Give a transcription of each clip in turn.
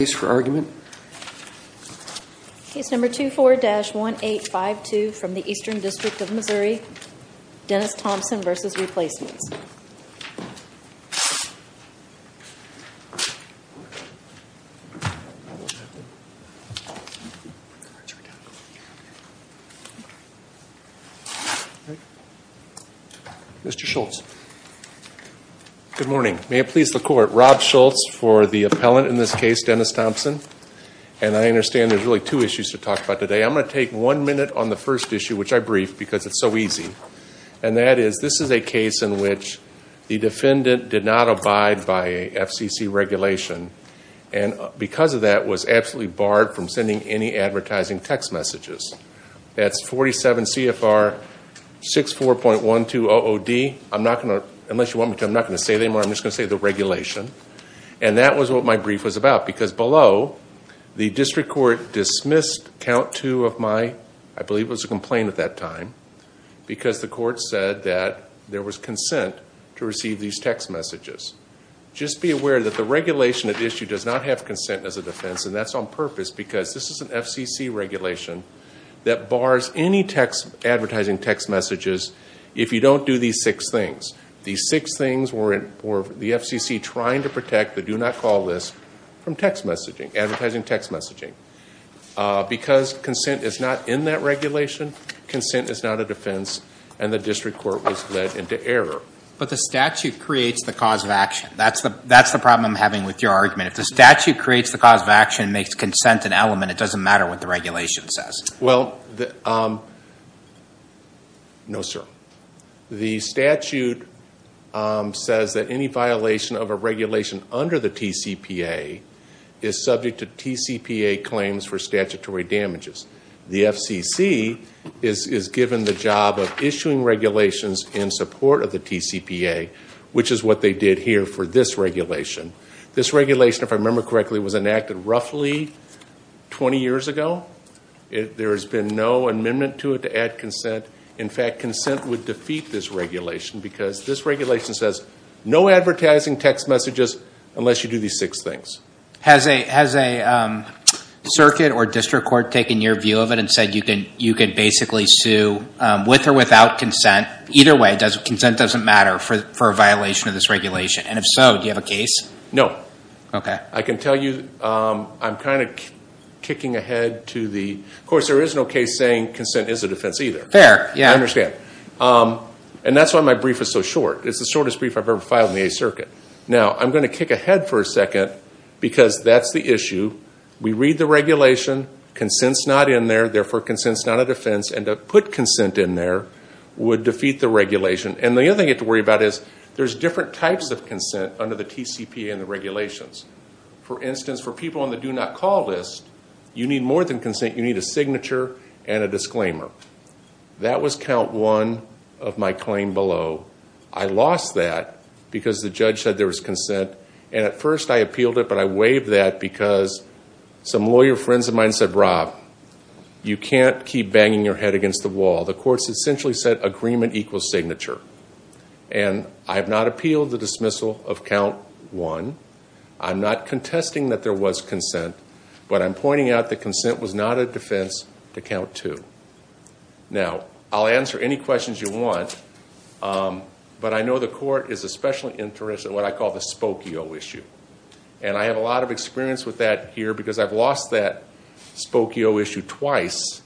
Mr. Schultz. Good morning. May it please the Court. I'm Rob Schultz for the appellant in this case, Dennis Thompson. And I understand there's really two issues to talk about today. I'm going to take one minute on the first issue, which I briefed because it's so easy. And that is, this is a case in which the defendant did not abide by FCC regulation and because of that was absolutely barred from sending any advertising text messages. That's 47 CFR 64.12 OOD. I'm not going to, unless you want me to, I'm not going to say it anymore. I'm just going to say the regulation. And that was what my brief was about because below, the district court dismissed count two of my, I believe it was a complaint at that time, because the court said that there was consent to receive these text messages. Just be aware that the regulation at issue does not have consent as a defense and that's on purpose because this is an FCC regulation that bars any advertising text messages if you don't do these six things. These six things were the FCC trying to protect the do not call list from text messaging, advertising text messaging. Because consent is not in that regulation, consent is not a defense and the district court was led into error. But the statute creates the cause of action. That's the problem I'm having with your argument. If the statute creates the cause of action and makes consent an element, it doesn't matter what the regulation says. Well, no sir. The statute says that any violation of a regulation under the TCPA is subject to TCPA claims for statutory damages. The FCC is given the job of issuing regulations in support of the TCPA, which is what they did here for this regulation. This regulation, if I remember correctly, was enacted roughly 20 years ago. There has been no amendment to it to add consent. In fact, consent would defeat this regulation because this regulation says no advertising text messages unless you do these six things. Has a circuit or district court taken your view of it and said you can basically sue with or without consent? Either way, consent doesn't matter for a violation of this regulation. And if so, do you have a case? No. Okay. I can tell you I'm kind of kicking ahead to the, of course there is no case saying consent is a defense either. Fair. Yeah. I understand. And that's why my brief is so short. It's the shortest brief I've ever filed in the Eighth Circuit. Now, I'm going to kick ahead for a second because that's the issue. We read the regulation. Consent's not in there. Therefore, consent's not a defense. And to put consent in there would defeat the regulation. And the other thing you have to worry about is there's different types of consent under the TCPA and the regulations. For instance, for people on the do not call list, you need more than consent. You need a signature and a disclaimer. That was count one of my claim below. I lost that because the judge said there was consent. And at first I appealed it, but I waived that because some lawyer friends of mine said, Rob, you can't keep banging your head against the wall. The courts essentially said agreement equals signature. And I have not appealed the dismissal of count one. I'm not contesting that there was consent. But I'm pointing out that consent was not a defense to count two. Now, I'll answer any questions you want. But I know the court is especially interested in what I call the Spokio issue. And I have a lot of experience with that here because I've lost that Spokio issue twice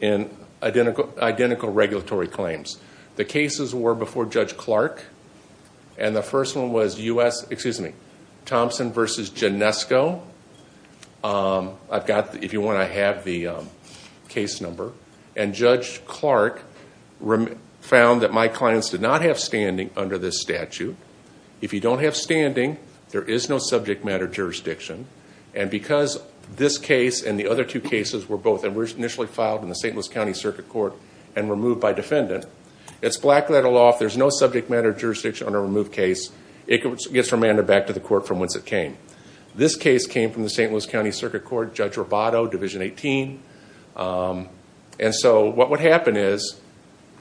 in identical regulatory claims. The cases were before Judge Clark. And the first one was Thompson versus Genesco. If you want, I have the case number. And Judge Clark found that my clients did not have standing under this statute. If you don't have standing, there is no subject matter jurisdiction. And because this case and the other two cases were both initially filed in the St. Louis County Circuit Court and removed by defendant, it's black letter law. There's no subject matter jurisdiction on a removed case. It gets remanded back to the court from whence it came. This case came from the St. Louis County Circuit Court, Judge Roboto, Division 18. And so what would happen is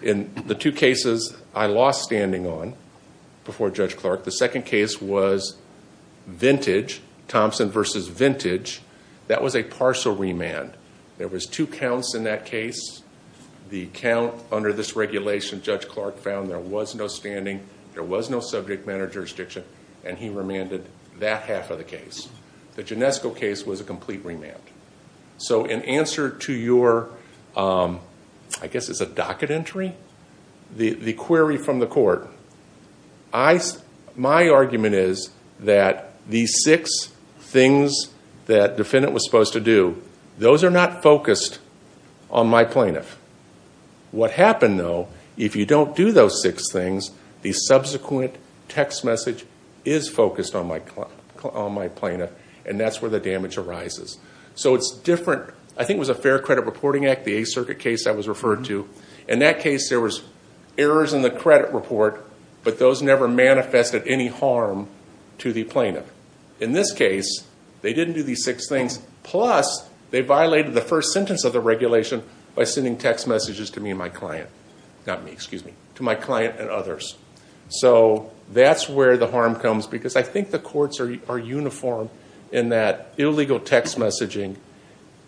in the two cases I lost standing on before Judge Clark, the second case was Vintage, Thompson versus Vintage. That was a partial remand. There was two counts in that case. The count under this regulation, Judge Clark found there was no standing, there was no subject matter jurisdiction, and he remanded that half of the case. The Genesco case was a complete remand. So in answer to your, I guess it's a docket entry, the query from the court, my argument is that these six things that defendant was supposed to do, those are not focused on my plaintiff. What happened though, if you don't do those six things, the subsequent text message is focused on my plaintiff, and that's where the damage arises. So it's different. I think it was a Fair Credit Reporting Act, the Eighth Circuit case I was referred to. In that case, there was errors in the credit report, but those never manifested any harm to the plaintiff. In this case, they didn't do these six things, plus they violated the first sentence of the regulation by sending text messages to me and my client. Not me, excuse me, to my client and others. So that's where the harm comes because I think the courts are uniform in that illegal text messaging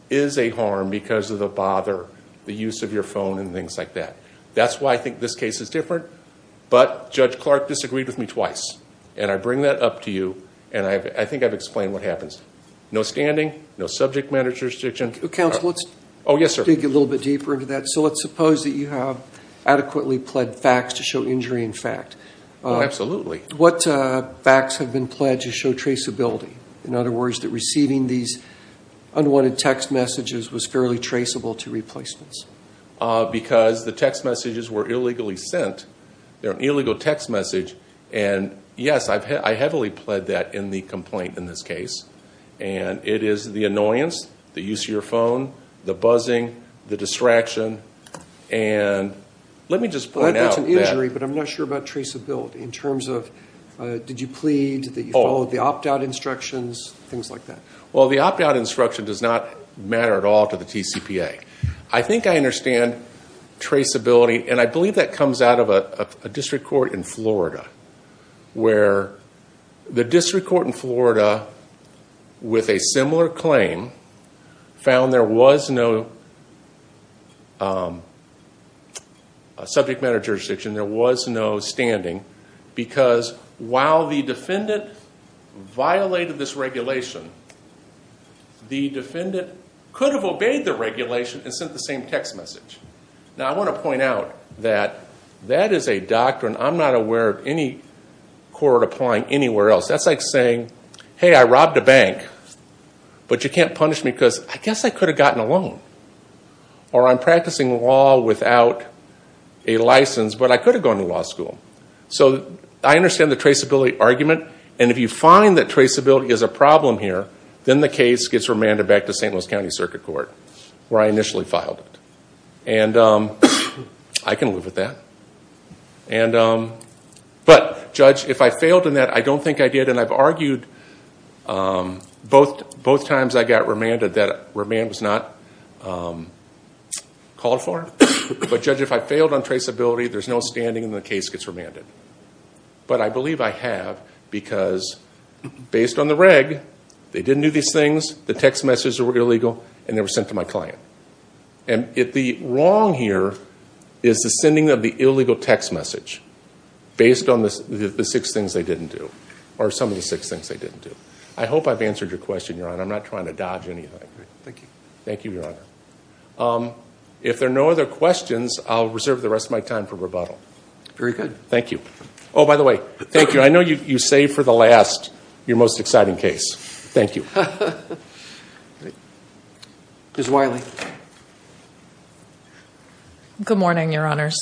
is a harm because of the bother, the use of your phone and things like that. That's why I think this case is different, but Judge Clark disagreed with me twice, and I bring that up to you, and I think I've explained what happens. No standing, no subject matter jurisdiction. Counsel, let's dig a little bit deeper into that. So let's suppose that you have adequately pled facts to show injury in fact. What facts have been pled to show traceability? In other words, that receiving these unwanted text messages was fairly traceable to replacements. Because the text messages were illegally sent. They're an illegal text message, and yes, I heavily pled that in the complaint in this case. And it is the annoyance, the use of your phone, the buzzing, the distraction. And let me just point out that- That's an injury, but I'm not sure about traceability in terms of, did you plead, did you follow the opt-out instructions, things like that? Well, the opt-out instruction does not matter at all to the TCPA. I think I understand traceability, and I believe that comes out of a district court in Florida. Where the district court in Florida, with a similar claim, found there was no subject matter jurisdiction, there was no standing. Because while the defendant violated this regulation, the defendant could have obeyed the regulation and sent the same text message. Now I want to point out that that is a doctrine I'm not aware of any court applying anywhere else. That's like saying, hey, I robbed a bank, but you can't punish me because I guess I could have gotten a loan. Or I'm practicing law without a license, but I could have gone to law school. So I understand the traceability argument. And if you find that traceability is a problem here, then the case gets remanded back to St. Louis County Circuit Court, where I initially filed it. And I can live with that. And- But judge, if I failed in that, I don't think I did. And I've argued both times I got remanded that remand was not called for. But judge, if I failed on traceability, there's no standing, and the case gets remanded. But I believe I have, because based on the reg, they didn't do these things, the text messages were illegal, and they were sent to my client. And the wrong here is the sending of the illegal text message, based on the six things they didn't do, or some of the six things they didn't do. I hope I've answered your question, Your Honor. I'm not trying to dodge anything. Thank you. Thank you, Your Honor. If there are no other questions, I'll reserve the rest of my time for rebuttal. Very good. Thank you. Oh, by the way, thank you. I know you saved for the last, your most exciting case. Thank you. Ms. Wiley. Good morning, Your Honors.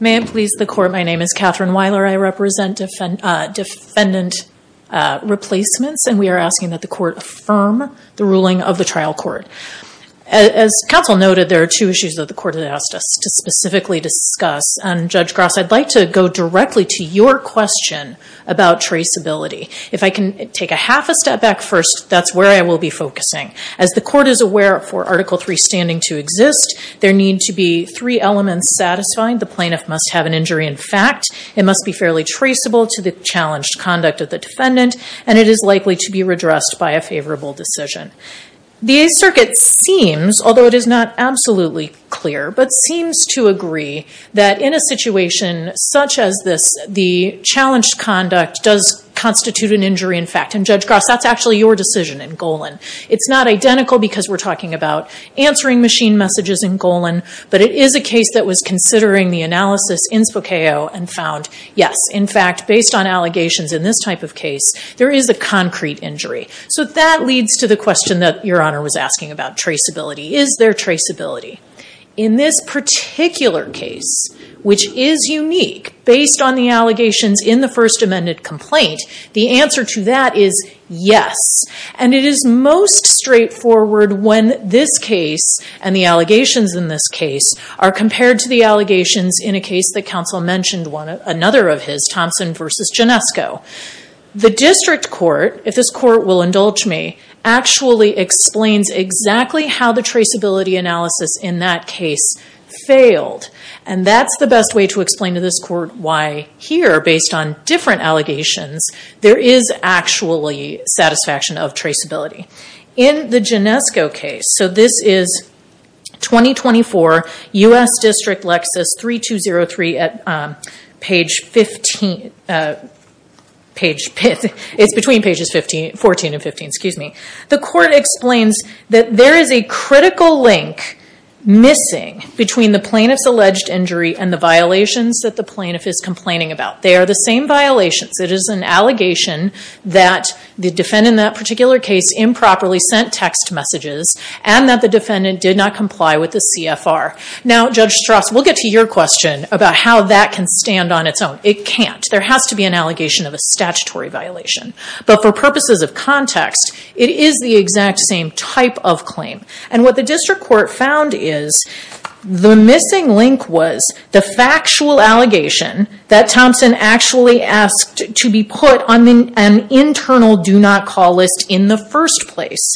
May it please the court, my name is Catherine Wiler. I represent defendant replacements, and we are asking that the court affirm the ruling of the trial court. As counsel noted, there are two issues that the court has asked us to specifically discuss. And Judge Gross, I'd like to go directly to your question about traceability. If I can take a half a step back first, that's where I will be focusing. As the court is aware for Article III standing to exist, there need to be three elements satisfying. The plaintiff must have an injury in fact. It must be fairly traceable to the challenged conduct of the defendant, and it is likely to be redressed by a favorable decision. The circuit seems, although it is not absolutely clear, but seems to agree that in a situation such as this, the challenged conduct does constitute an injury in fact. And Judge Gross, that's actually your decision in Golan. It's not identical because we're talking about answering machine messages in Golan, but it is a case that was considering the analysis in Spokeo and found, yes, in fact, based on allegations in this type of case, there is a concrete injury. So that leads to the question that Your Honor was asking about traceability. Is there traceability? In this particular case, which is unique, based on the allegations in the first amended complaint, the answer to that is yes. And it is most straightforward when this case and the allegations in this case are compared to the allegations in a case that counsel mentioned, another of his, Thompson versus Genesco. The district court, if this court will indulge me, actually explains exactly how the traceability analysis in that case failed. And that's the best way to explain to this court why here, based on different allegations, there is actually satisfaction of traceability. In the Genesco case, so this is 2024, U.S. District Lexus 3203, it's between pages 14 and 15, excuse me. The court explains that there is a critical link missing between the plaintiff's alleged injury and the violations that the plaintiff is complaining about. They are the same violations. It is an allegation that the defendant in that particular case improperly sent text messages and that the defendant did not comply with the CFR. Now, Judge Strauss, we'll get to your question about how that can stand on its own. It can't. There has to be an allegation of a statutory violation. But for purposes of context, it is the exact same type of claim. And what the district court found is the missing link was the factual allegation that Thompson actually asked to be put on an internal do not call list in the first place.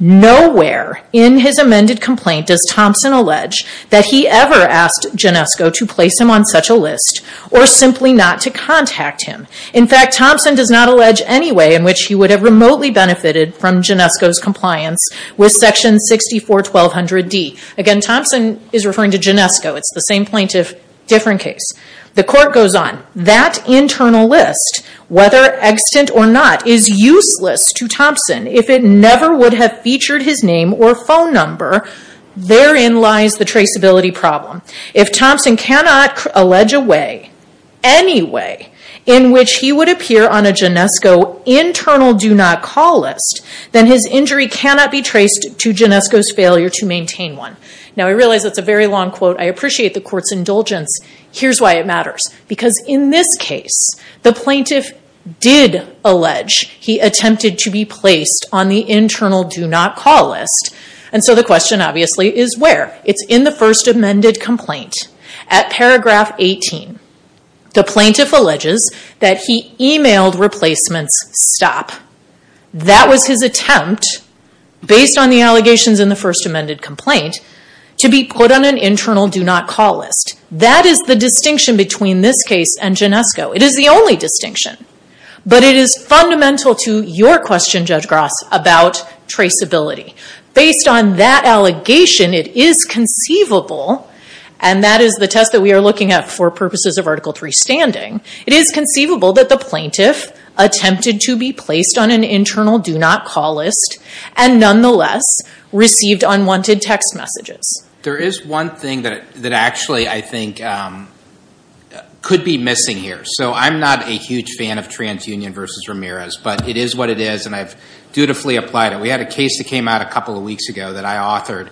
Nowhere in his amended complaint does Thompson allege that he ever asked Genesco to place him on such a list or simply not to contact him. In fact, Thompson does not allege any way in which he would have remotely benefited from Genesco's compliance with section 641200D. Again, Thompson is referring to Genesco. It's the same plaintiff, different case. The court goes on. That internal list, whether extant or not, is useless to Thompson if it never would have featured his name or phone number. Therein lies the traceability problem. If Thompson cannot allege a way, any way, in which he would appear on a Genesco internal do not call list, then his injury cannot be traced to Genesco's failure to maintain one. Now, I realize that's a very long quote. I appreciate the court's indulgence. Here's why it matters. Because in this case, the plaintiff did allege he attempted to be placed on the internal do not call list. And so the question, obviously, is where? It's in the first amended complaint. At paragraph 18, the plaintiff alleges that he emailed replacements stop. That was his attempt, based on the allegations in the first amended complaint, to be put on an internal do not call list. That is the distinction between this case and Genesco. It is the only distinction. But it is fundamental to your question, Judge Gross, about traceability. Based on that allegation, it is conceivable, and that is the test that we are looking at for purposes of Article III standing, it is conceivable that the plaintiff attempted to be placed on an internal do not call list and nonetheless received unwanted text messages. There is one thing that actually, I think, could be missing here. So I'm not a huge fan of TransUnion versus Ramirez, but it is what it is. And I've dutifully applied it. We had a case that came out a couple of weeks ago that I authored,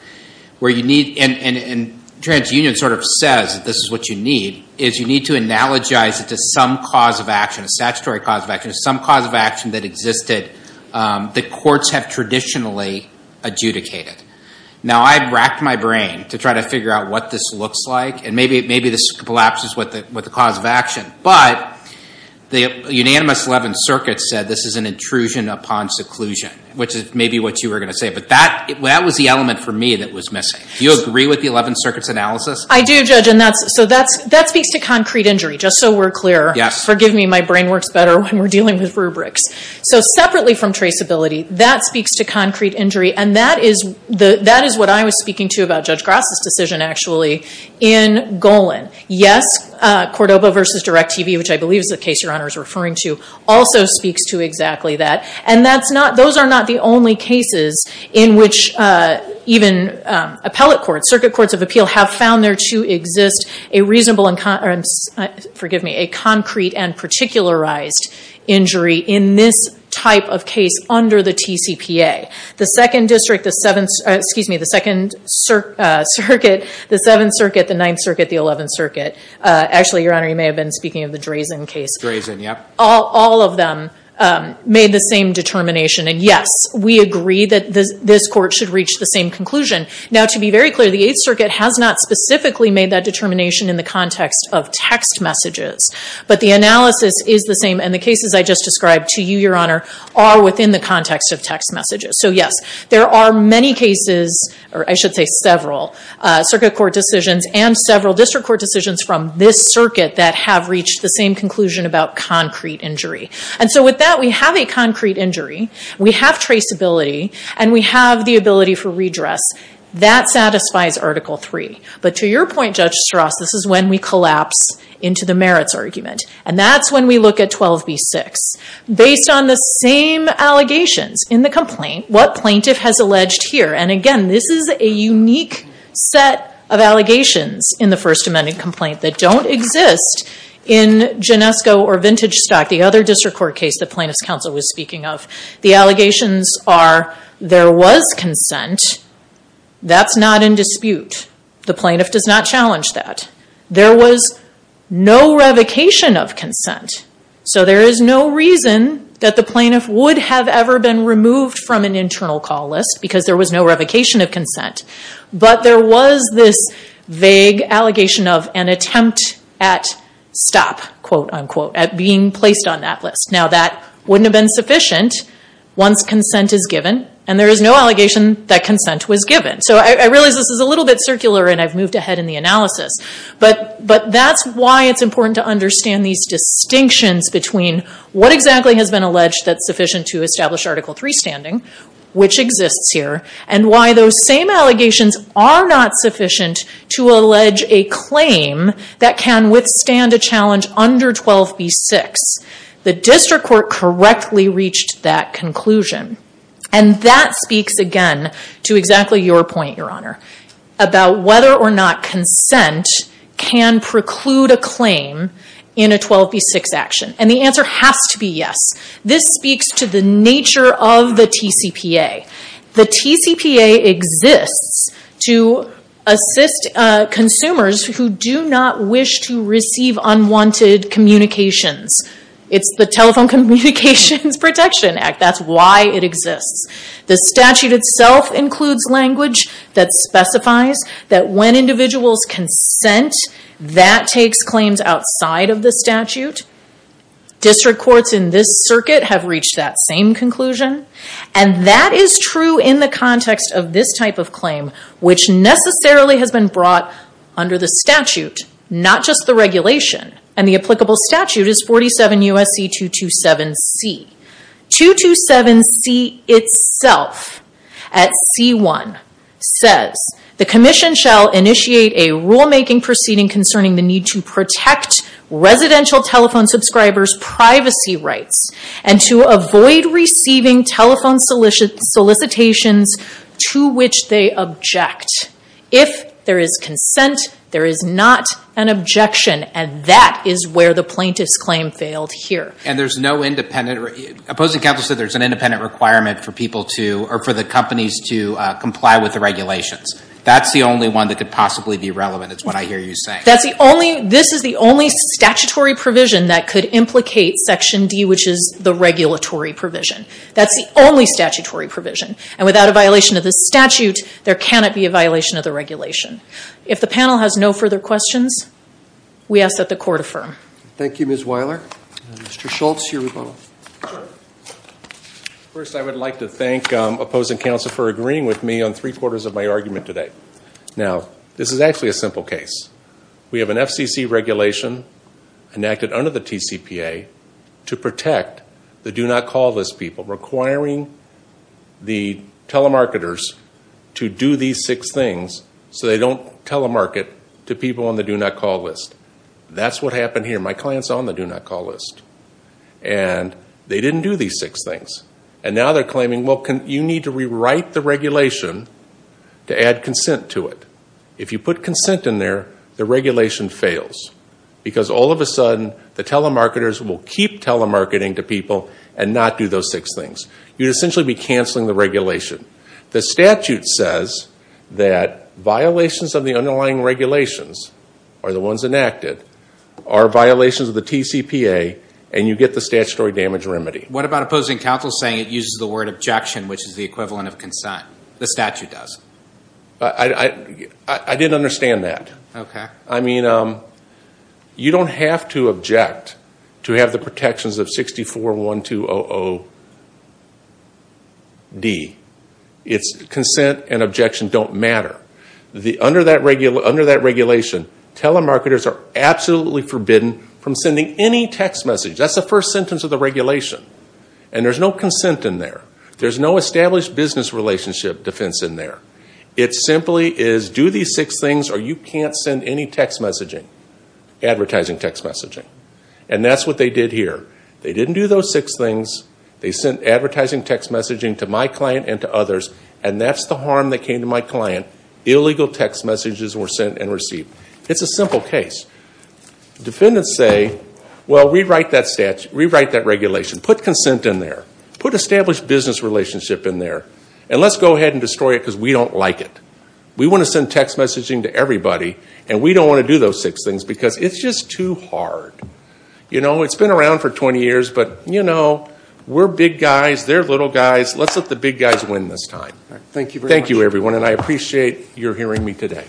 where you need, and TransUnion sort of says this is what you need, is you need to analogize it to some cause of action, a statutory cause of action, some cause of action that existed that courts have traditionally adjudicated. Now, I've racked my brain to try to figure out what this looks like, and maybe this collapses with the cause of action. But the unanimous 11th Circuit said this is an intrusion upon seclusion, which is maybe what you were going to say. But that was the element for me that was missing. Do you agree with the 11th Circuit's analysis? I do, Judge, and that speaks to concrete injury, just so we're clear. Yes. Forgive me, my brain works better when we're dealing with rubrics. So separately from traceability, that speaks to concrete injury, and that is what I was speaking to about Judge Grass's decision, actually, in Golan. Yes, Cordova versus DirecTV, which I believe is the case Your Honor is referring to, also speaks to exactly that. And those are not the only cases in which even appellate courts, circuit courts of appeal, have found there to exist a reasonable and, forgive me, a concrete and particularized injury in this type of case under the TCPA. The Second District, the Seventh, excuse me, the Second Circuit, the Seventh Circuit, the Ninth Circuit, the Eleventh Circuit, actually, Your Honor, you may have been speaking of the Drazen case. Drazen, yep. All of them made the same determination. And yes, we agree that this court should reach the same conclusion. Now, to be very clear, the Eighth Circuit has not specifically made that determination in the context of text messages. But the analysis is the same. And the cases I just described to you, Your Honor, are within the context of text messages. So yes, there are many cases, or I should say several, circuit court decisions and several district court decisions from this circuit that have reached the same conclusion about concrete injury. And so with that, we have a concrete injury. We have traceability. And we have the ability for redress. That satisfies Article III. But to your point, Judge Strauss, this is when we collapse into the merits argument. And that's when we look at 12b-6. Based on the same allegations in the complaint, what plaintiff has alleged here. And again, this is a unique set of allegations in the First Amendment complaint that don't exist in Genesco or Vintage Stock, the other district court case the plaintiff's counsel was speaking of. The allegations are there was consent. That's not in dispute. The plaintiff does not challenge that. There was no revocation of consent. So there is no reason that the plaintiff would have ever been removed from an internal call list because there was no revocation of consent. But there was this vague allegation of an attempt at stop, quote unquote, at being placed on that list. Now, that wouldn't have been sufficient once consent is given. And there is no allegation that consent was given. So I realize this is a little bit circular. And I've moved ahead in the analysis. But that's why it's important to understand these distinctions between what exactly has been alleged that's sufficient to establish Article III standing, which exists here, and why those same allegations are not sufficient to allege a claim that can withstand a challenge under 12b-6. The district court correctly reached that conclusion. And that speaks, again, to exactly your point, Your Honor, about whether or not consent can preclude a claim in a 12b-6 action. And the answer has to be yes. This speaks to the nature of the TCPA. The TCPA exists to assist consumers who do not wish to receive unwanted communications. It's the Telephone Communications Protection Act. That's why it exists. The statute itself includes language that specifies that when individuals consent, that takes claims outside of the statute. District courts in this circuit have reached that same conclusion. And that is true in the context of this type of claim, which necessarily has been brought under the statute, not just the regulation. And the applicable statute is 47 U.S.C. 227C. 227C itself, at C1, says, the commission shall initiate a rulemaking proceeding concerning the need to protect residential telephone subscribers' privacy rights and to avoid receiving telephone solicitations to which they object. If there is consent, there is not an objection. And that is where the plaintiff's claim failed here. And there's no independent... Opposing counsel said there's an independent requirement for people to, or for the companies to, comply with the regulations. That's the only one that could possibly be relevant, is what I hear you saying. That's the only, this is the only statutory provision that could implicate Section D, which is the regulatory provision. That's the only statutory provision. And without a violation of the statute, there cannot be a violation of the regulation. If the panel has no further questions, we ask that the court affirm. Thank you, Ms. Weiler. Mr. Schultz, your rebuttal. Sure. First, I would like to thank opposing counsel for agreeing with me on three quarters of my argument today. Now, this is actually a simple case. We have an FCC regulation enacted under the TCPA to protect the do-not-call-list people, requiring the telemarketers to do these six things so they don't telemarket to people on the do-not-call list. That's what happened here. My client's on the do-not-call list. And they didn't do these six things. And now they're claiming, well, you need to rewrite the regulation to add consent to it. If you put consent in there, the regulation fails. Because all of a sudden, the telemarketers will keep telemarketing to people and not do those six things. You'd essentially be canceling the regulation. The statute says that violations of the underlying regulations, or the ones enacted, are violations of the TCPA, and you get the statutory damage remedy. What about opposing counsel saying it uses the word objection, which is the equivalent of consent? The statute does. I didn't understand that. Okay. I mean, you don't have to object to have the protections of 64-1200-D. It's consent and objection don't matter. Under that regulation, telemarketers are absolutely forbidden from sending any text message. That's the first sentence of the regulation. And there's no consent in there. There's no established business relationship defense in there. It simply is do these six things or you can't send any text messaging, advertising text messaging. And that's what they did here. They didn't do those six things. They sent advertising text messaging to my client and to others. And that's the harm that came to my client. Illegal text messages were sent and received. It's a simple case. Defendants say, well, rewrite that regulation. Put consent in there. Put established business relationship in there. And let's go ahead and destroy it because we don't like it. We want to send text messaging to everybody, and we don't want to do those six things because it's just too hard. You know, it's been around for 20 years, but, you know, we're big guys. They're little guys. Let's let the big guys win this time. Thank you very much. And I appreciate your hearing me today.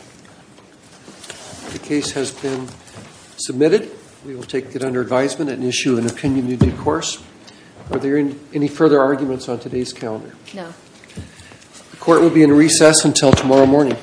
The case has been submitted. We will take it under advisement and issue an opinion in due course. Are there any further arguments on today's calendar? No. The court will be in recess until tomorrow morning.